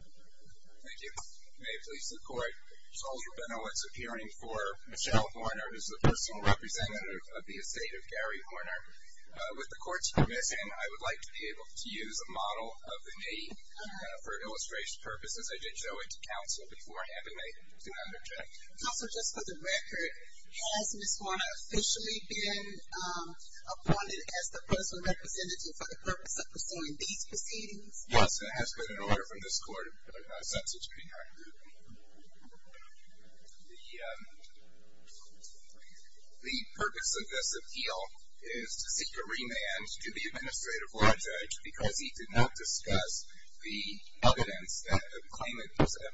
Thank you. May it please the court, Sol Rubino is appearing for Michelle Horner, who is the personal representative of the estate of Gary Horner. With the court's permission, I would like to be able to use a model of the name for illustration purposes. I did show it to counsel beforehand and they do not object. Counsel, just for the record, has Ms. Horner officially been appointed as the personal representative for the purpose of pursuing these proceedings? Yes, and it has been an order from this court. The purpose of this appeal is to seek a remand to the administrative law judge because he did not discuss the evidence that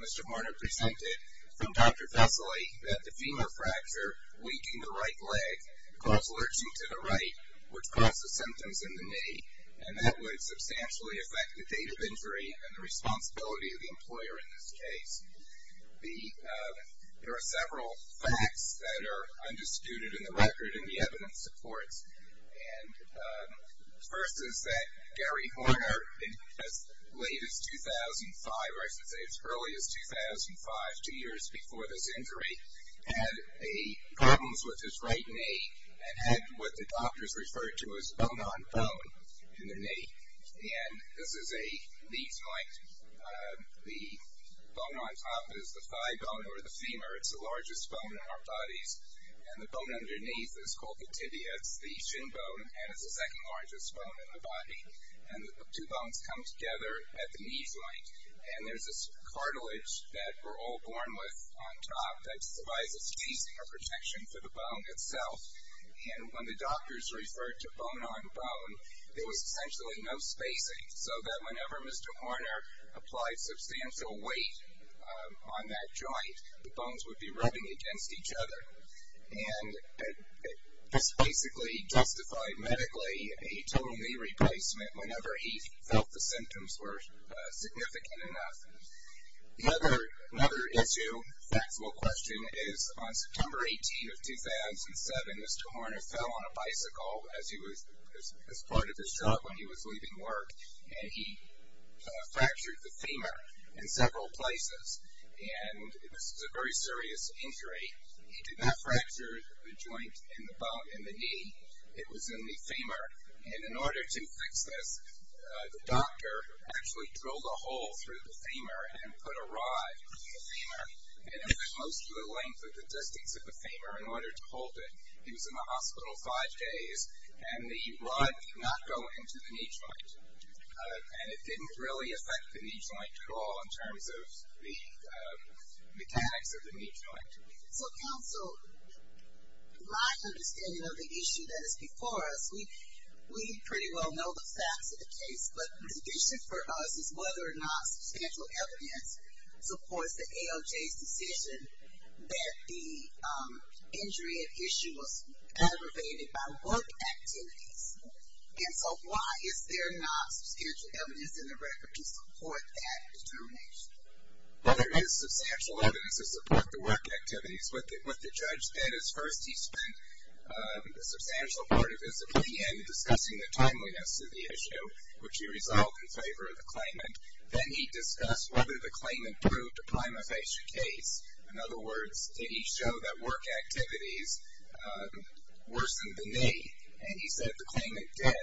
Mr. Horner presented from Dr. Vesely, that the femur fracture linking the right leg caused lurching to the right, which caused the symptoms in the knee. And that would substantially affect the date of injury and the responsibility of the employer in this case. There are several facts that are undisputed in the record and the evidence supports. And the first is that Gary Horner, as late as 2005, or I should say as early as 2005, two years before this injury, had problems with his right knee and had what the doctors referred to as bone-on-bone in the knee. And this is a knee joint. The bone on top is the thigh bone or the femur. It's the largest bone in our bodies. And the bone underneath is called the tibia. It's the shin bone and it's the second largest bone in the body. And the two bones come together at the knee joint. And there's this cartilage that we're all born with on top that provides a casing or protection for the bone itself. And when the doctors referred to bone-on-bone, there was essentially no spacing, so that whenever Mr. Horner applied substantial weight on that joint, the bones would be rubbing against each other. And this basically justified medically a total knee replacement whenever he felt the symptoms were significant enough. Another issue, factual question, is on September 18 of 2007, Mr. Horner fell on a bicycle as part of his job when he was leaving work, and he fractured the femur in several places. And this was a very serious injury. He did not fracture the joint in the bone in the knee. It was in the femur. And in order to fix this, the doctor actually drilled a hole through the femur and put a rod through the femur. And it was most of the length of the distance of the femur in order to hold it. He was in the hospital five days, and the rod did not go into the knee joint. And it didn't really affect the knee joint at all in terms of the mechanics of the knee joint. So, counsel, my understanding of the issue that is before us, we pretty well know the facts of the case, but the decision for us is whether or not substantial evidence supports the ALJ's decision that the injury at issue was aggravated by work activities. And so why is there not substantial evidence in the record to support that determination? Well, there is substantial evidence to support the work activities. What the judge did is first he spent a substantial part of his opinion discussing the timeliness of the issue, which he resolved in favor of the claimant. Then he discussed whether the claimant proved to prima facie case. In other words, did he show that work activities worsened the knee? And he said the claimant did.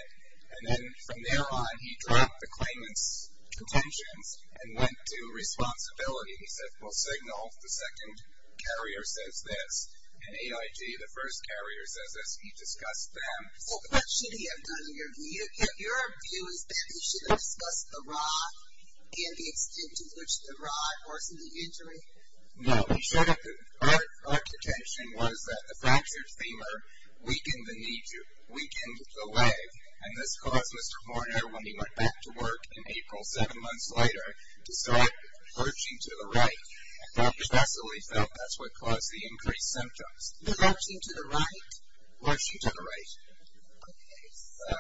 And then from there on, he dropped the claimant's contentions and went to responsibility. He said, well, signal, the second carrier says this, and AIG, the first carrier, says this. He discussed them. So what should he have done? Your view is that he should have discussed the rod and the extent to which the rod worsened the injury? No. Our contention was that the fractured femur weakened the knee, weakened the leg, and this caused Mr. Horner, when he went back to work in April seven months later, to start lurching to the right. And Dr. Nestle felt that's what caused the increased symptoms. Lurching to the right? Lurching to the right. Okay. So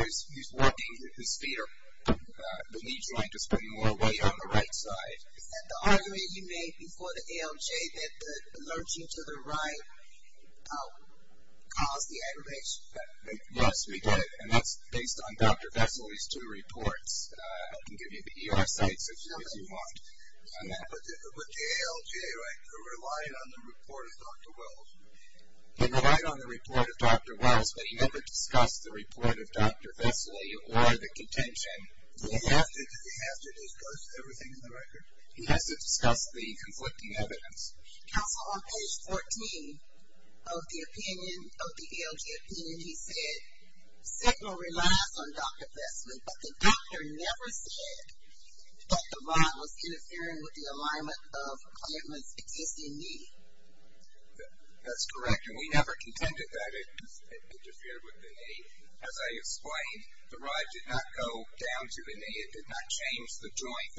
he's working his feet or the knee joint to put more weight on the right side. Is that the argument you made before the ALJ that the lurching to the right caused the aggravation? Yes, we did. And that's based on Dr. Vesely's two reports. I can give you the ER sites if you want. But the ALJ, right, who relied on the report of Dr. Wells? They relied on the report of Dr. Wells, but he never discussed the report of Dr. Vesely or the contention. Does he have to discuss everything in the record? He has to discuss the conflicting evidence. Counsel, on page 14 of the opinion, of the ALJ opinion, he said, Signal relies on Dr. Vesely, but the doctor never said that the rod was interfering with the alignment of Clampman's existing knee. That's correct, and we never contended that it interfered with the knee. As I explained, the rod did not go down to the knee. It did not change the joint,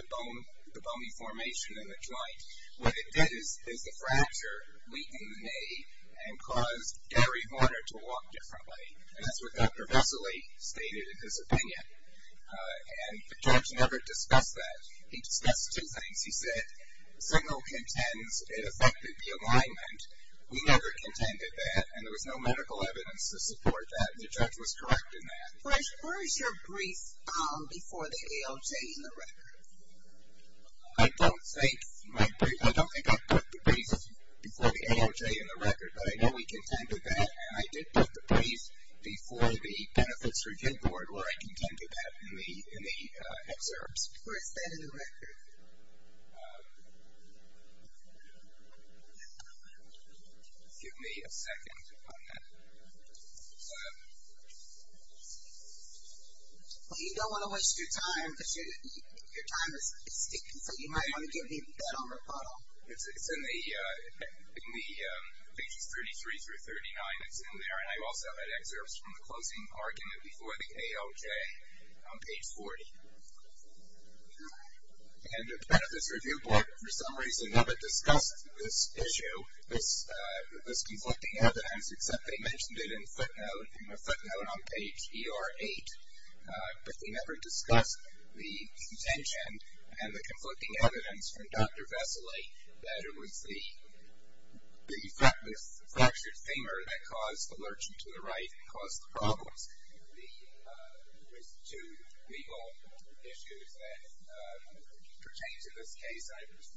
the bony formation in the joint. What it did is the fracture weakened the knee and caused Gary Horner to walk differently. And that's what Dr. Vesely stated in his opinion. And the judge never discussed that. He discussed two things. He said, Signal contends it affected the alignment. We never contended that, and there was no medical evidence to support that. The judge was correct in that. Where is your brief before the ALJ in the record? I don't think I put the brief before the ALJ in the record, but I know we contended that, and I did put the brief before the benefits review board where I contended that in the excerpts. Where is that in the record? Give me a second on that. Well, you don't want to waste your time because your time is sticking, so you might want to give me that on rebuttal. It's in the pages 33 through 39. It's in there. And I also had excerpts from the closing argument before the ALJ on page 40. And the benefits review board, for some reason, never discussed this issue, this conflicting evidence, except they mentioned it in a footnote on page ER8. But they never discussed the contention and the conflicting evidence from Dr. Vesely that it was the fractured finger that caused the lurching to the right and caused the problems. There was two legal issues that pertain to this case.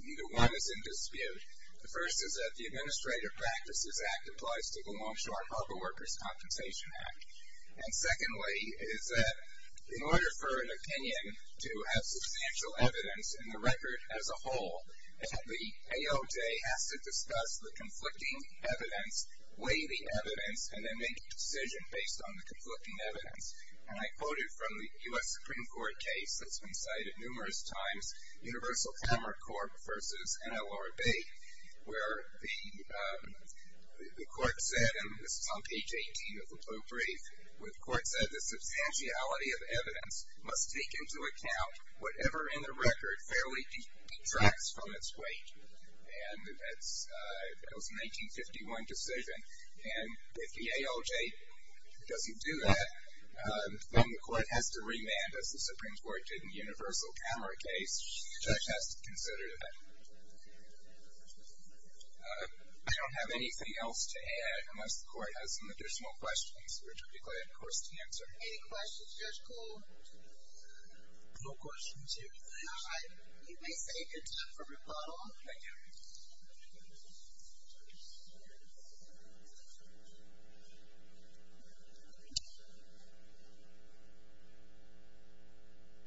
Neither one is in dispute. The first is that the Administrative Practices Act applies to the Longshore Harbor Workers Compensation Act. And secondly is that in order for an opinion to have substantial evidence in the record as a whole, the ALJ has to discuss the conflicting evidence, weigh the evidence, and then make a decision based on the conflicting evidence. And I quoted from the U.S. Supreme Court case that's been cited numerous times, Universal Camera Corp. versus NLRB, where the court said, and this is on page 18 of the brief, where the court said, the substantiality of evidence must take into account whatever in the record fairly detracts from its weight. And that was a 1951 decision. And if the ALJ doesn't do that, then the court has to remand, as the Supreme Court did in the Universal Camera case. The judge has to consider that. I don't have anything else to add unless the court has some additional questions, which I'd be glad, of course, to answer. Any questions, Judge Cole? No questions here. All right. You may say your time for rebuttal. Thank you.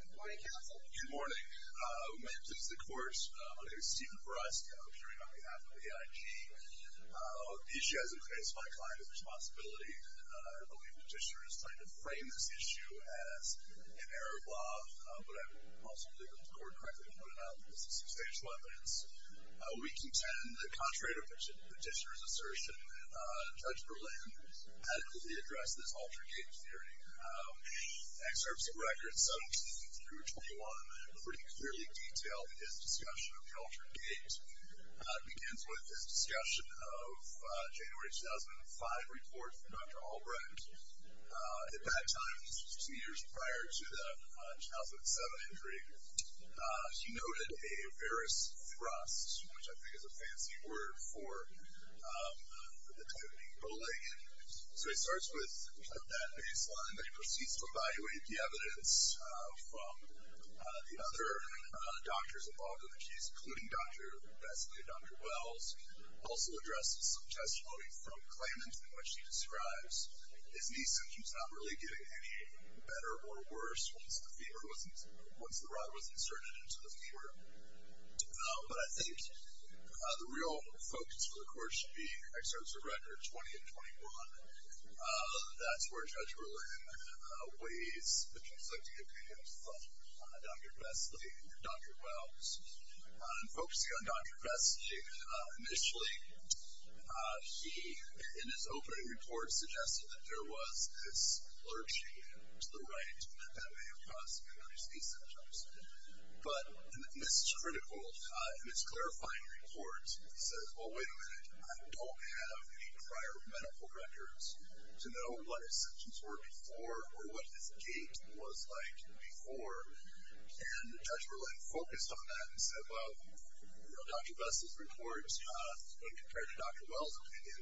Good morning, counsel. Good morning. My name is Stephen Breskin. I'm appearing on behalf of AIG. The issue has increased my client's responsibility. I believe the petitioner is trying to frame this issue as an error of law, but I don't think the court possibly correctly pointed out that this is substantial evidence. We contend that contrary to the petitioner's assertion, Judge Berlin adequately addressed this Altered Gate theory. Excerpts of records 17 through 21 pretty clearly detail his discussion of the Altered Gate. It begins with his discussion of January 2005 report from Dr. Albrecht. At that time, which was two years prior to the 2007 injury, he noted a various thrust, which I think is a fancy word for the type of bullying. So he starts with that baseline, then he proceeds to evaluate the evidence from the other doctors involved in the case, including Dr. Bessley and Dr. Wells, also addresses some testimony from Klayman in which he describes his knee symptoms not really getting any better or worse once the rod was inserted into the femur. But I think the real focus for the court should be excerpts of records 20 and 21. That's where Judge Berlin weighs the consecutive opinions of Dr. Bessley and Dr. Wells. Focusing on Dr. Bessley, initially he, in his opening report, suggested that there was this lurching to the right that may have caused the increased knee symptoms. But, and this is critical, in his clarifying report, he says, well, wait a minute, I don't have any prior medical records to know what his symptoms were before or what his gait was like before. And Judge Berlin focused on that and said, well, you know, Dr. Bessley's report, when compared to Dr. Wells' opinion,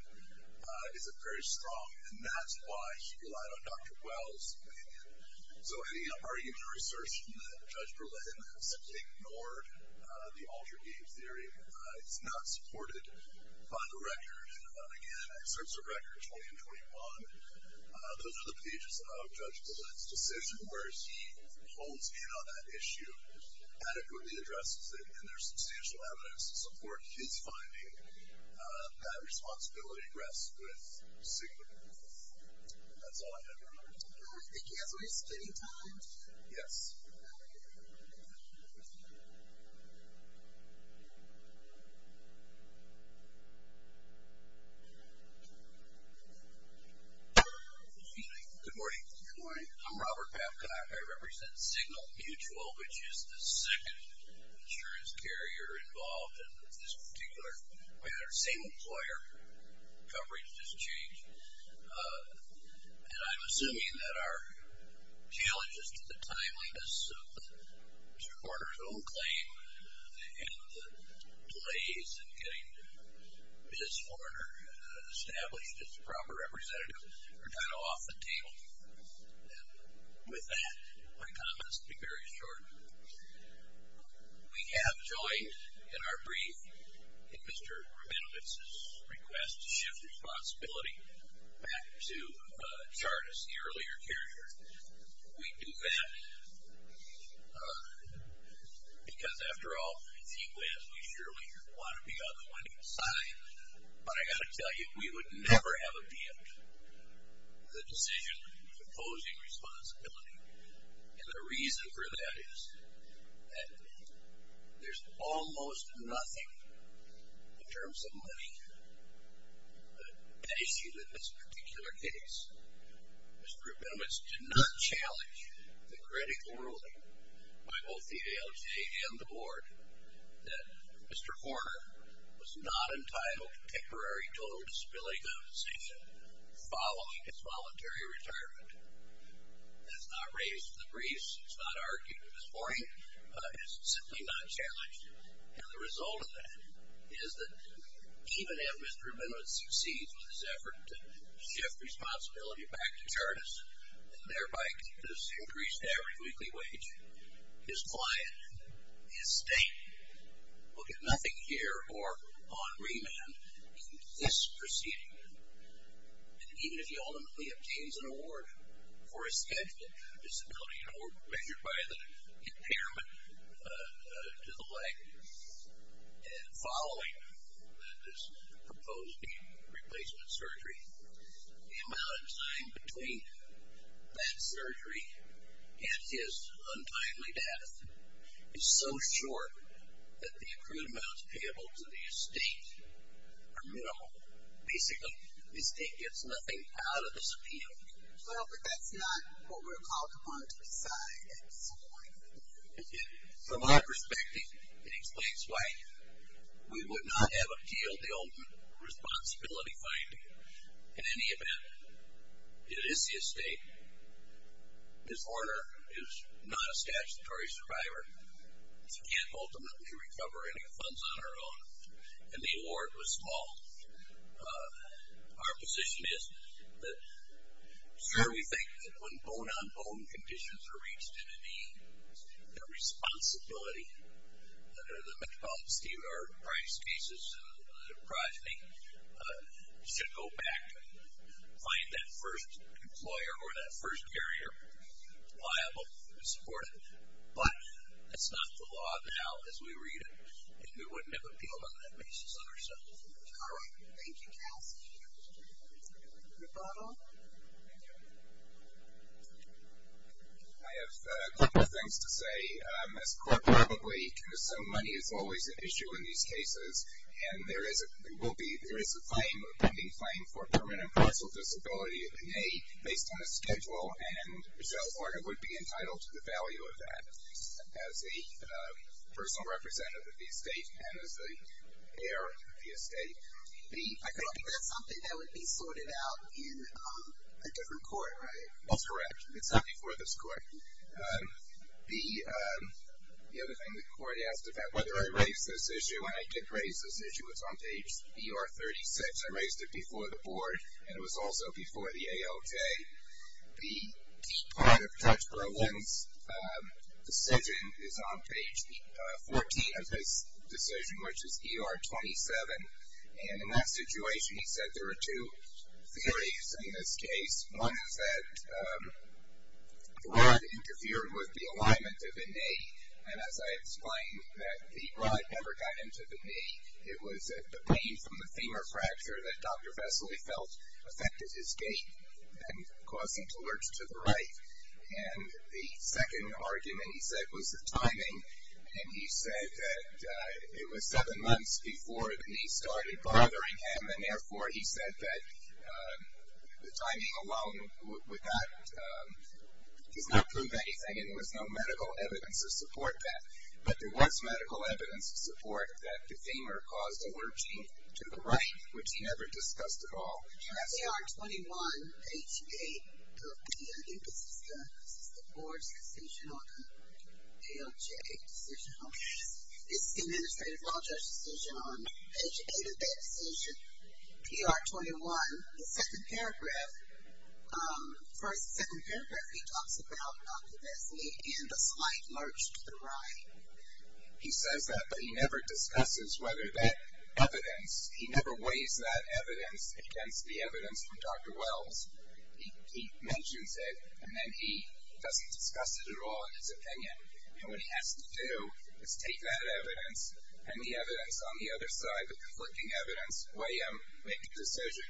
isn't very strong, and that's why he relied on Dr. Wells' opinion. So any argument or assertion that Judge Berlin has simply ignored the alter-gait theory, it's not supported by the record. Again, excerpts of records 20 and 21, those are the pages of Judge Berlin's decision, where he holds in on that issue, adequately addresses it, and there's substantial evidence to support his finding that responsibility rests with Sigmund. And that's all I have for now. I don't know if we can't waste any time. Yes. Good morning. Good morning. I'm Robert Babcock. I represent Signal Mutual, which is the second insurance carrier involved in this particular matter. Same employer, coverage just changed. And I'm assuming that our challenges to the timeliness of Mr. Horner's own claim and the delays in getting Ms. Horner established as the proper representative are kind of off the table. And with that, my comments will be very short. We have joined in our brief in Mr. Rabinowitz's request to shift responsibility back to Chartis, the earlier carrier. We do that because, after all, it's equally as we surely want to be on the winning side. But I've got to tell you, we would never have appealed the decision of imposing responsibility. And the reason for that is that there's almost nothing, in terms of money, that issues in this particular case. Mr. Rabinowitz did not challenge the critical ruling by both the ALJ and the board that Mr. Horner was not entitled to temporary total disability compensation following his voluntary retirement. That's not raised in the briefs. It's not argued this morning. It's simply not challenged. And the result of that is that, even if Mr. Rabinowitz succeeds with his effort to shift responsibility back to Chartis, and thereby has increased average weekly wage, his client, his state, will get nothing here or on remand in this proceeding. And even if he ultimately obtains an award for his scheduled disability, an award measured by the impairment to the leg, following this proposed knee replacement surgery, the amount assigned between that surgery and his untimely death is so short that the accrued amounts payable to the estate are minimal. Basically, the estate gets nothing out of this appeal. Well, but that's not what we're called upon to decide at this point. From our perspective, it explains why we would not have appealed the old responsibility finding. In any event, it is the estate. Mr. Horner is not a statutory survivor. She can't ultimately recover any funds on her own. And the award was small. Our position is that, sure, we think that when bone-on-bone conditions are reached and the responsibility under the Metropolitan State of New York price cases and the progeny should go back to find that first employer or that first carrier liable and supported. But that's not the law now as we read it, and we wouldn't have appealed on that basis on our side. All right. Thank you, Cassie. Mr. Bottle. I have a couple of things to say. As a court probably can assume money is always an issue in these cases, and there is a claim, a pending claim, for permanent and partial disability A, based on a schedule, and Michelle Horner would be entitled to the value of that as a personal representative of the estate and as the heir of the estate. B, I don't think that's something that would be sorted out in a different court, right? That's correct. It's not before this court. The other thing the court asked about whether I raised this issue, and I did raise this issue. It was on page ER36. I raised it before the board, and it was also before the ALJ. The part of Judge Berlin's decision is on page 14 of his decision, which is ER27, and in that situation he said there were two theories in this case. One is that the rod interfered with the alignment of the knee, and as I explained that the rod never got into the knee. It was the pain from the femur fracture that Dr. Bessely felt affected his gait and caused him to lurch to the right. And the second argument he said was the timing, and he said that it was seven months before the knee started bothering him, and therefore he said that the timing alone does not prove anything, and there was no medical evidence to support that. But there was medical evidence to support that the femur caused a lurching to the right, which he never discussed at all. In ER21, page 8, I think this is the board's decision on the ALJ decision. This is the administrative law judge's decision on page 8 of that decision, ER21. The second paragraph, first and second paragraph, here he talks about Dr. Bessely and the slight lurch to the right. He says that, but he never discusses whether that evidence, he never weighs that evidence against the evidence from Dr. Wells. He mentions it, and then he doesn't discuss it at all in his opinion, and what he has to do is take that evidence and the evidence on the other side, the conflicting evidence, weigh them, make a decision.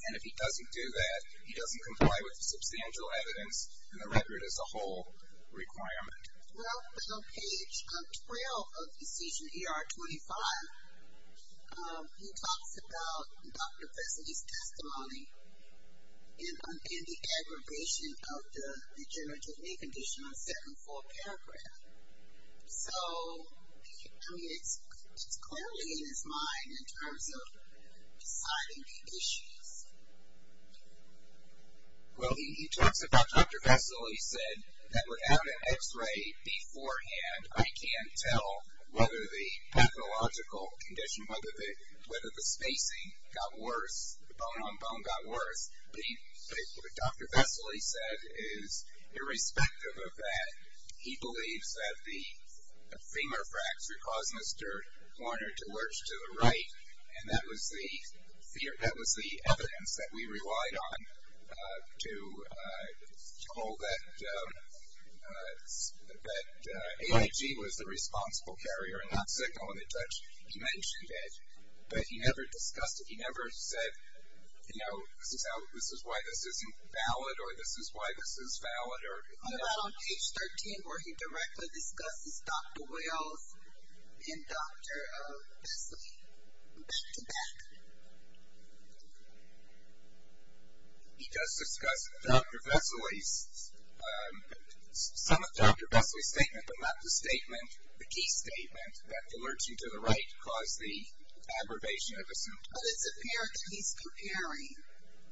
And if he doesn't do that, he doesn't comply with the substantial evidence and the record as a whole requirement. Well, on page 12 of decision ER25, he talks about Dr. Bessely's testimony and the aggravation of the degenerative knee condition on the second paragraph. So, I mean, it's clearly in his mind in terms of deciding the issues. Well, he talks about Dr. Bessely said that without an x-ray beforehand, I can't tell whether the pathological condition, whether the spacing got worse, the bone-on-bone got worse. But what Dr. Bessely said is irrespective of that, he believes that the femur fracture caused Mr. Warner to lurch to the right, and that was the evidence that we relied on to hold that AIG was the responsible carrier and not signaling the judge. He mentioned it, but he never discussed it. He never said, you know, this is why this isn't valid or this is why this is valid. How about on page 13 where he directly discusses Dr. Wales and Dr. Bessely back-to-back? He does discuss Dr. Bessely's, some of Dr. Bessely's statements, but not the statement, the key statement that lurching to the right caused the aggravation of the symptom. But it's apparent that he's comparing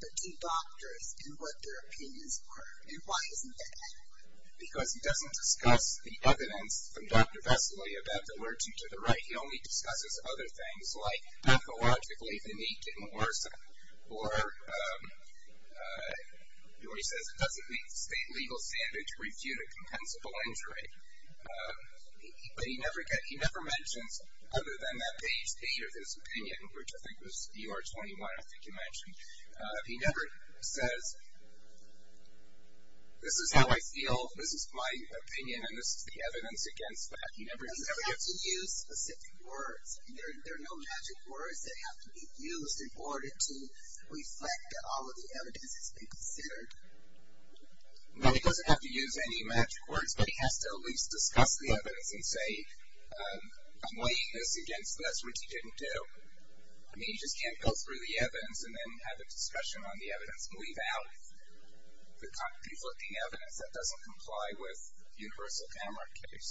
the two doctors in what their opinions were, and why isn't that accurate? Because he doesn't discuss the evidence from Dr. Bessely about the lurching to the right. He only discusses other things like pathologically the knee didn't worsen or he says it doesn't meet the state legal standard to refute a compensable injury. But he never mentions, other than that page 8 of his opinion, which I think was ER 21, I think you mentioned, he never says, this is how I feel, this is my opinion, and this is the evidence against that. He never does that. He doesn't have to use specific words. There are no magic words that have to be used in order to reflect that all of the evidence has been considered. No, he doesn't have to use any magic words, but he has to at least discuss the evidence and say, I'm weighing this against this, which he didn't do. I mean, he just can't go through the evidence and then have a discussion on the evidence and leave out the conflicting evidence that doesn't comply with the universal camera case.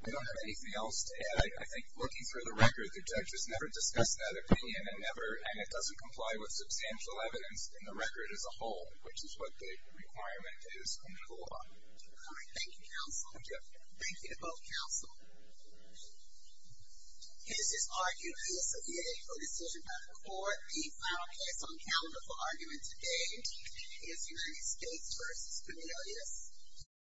I don't have anything else to add. I think looking through the record, the judge has never discussed that opinion, and it doesn't comply with substantial evidence in the record as a whole, which is what the requirement is in the law. All right. Thank you, counsel. Thank you. Thank you to both counsel. Is this argument, as of yet, a decision by the court? The final case on calendar for argument today is United States v. Cornelius.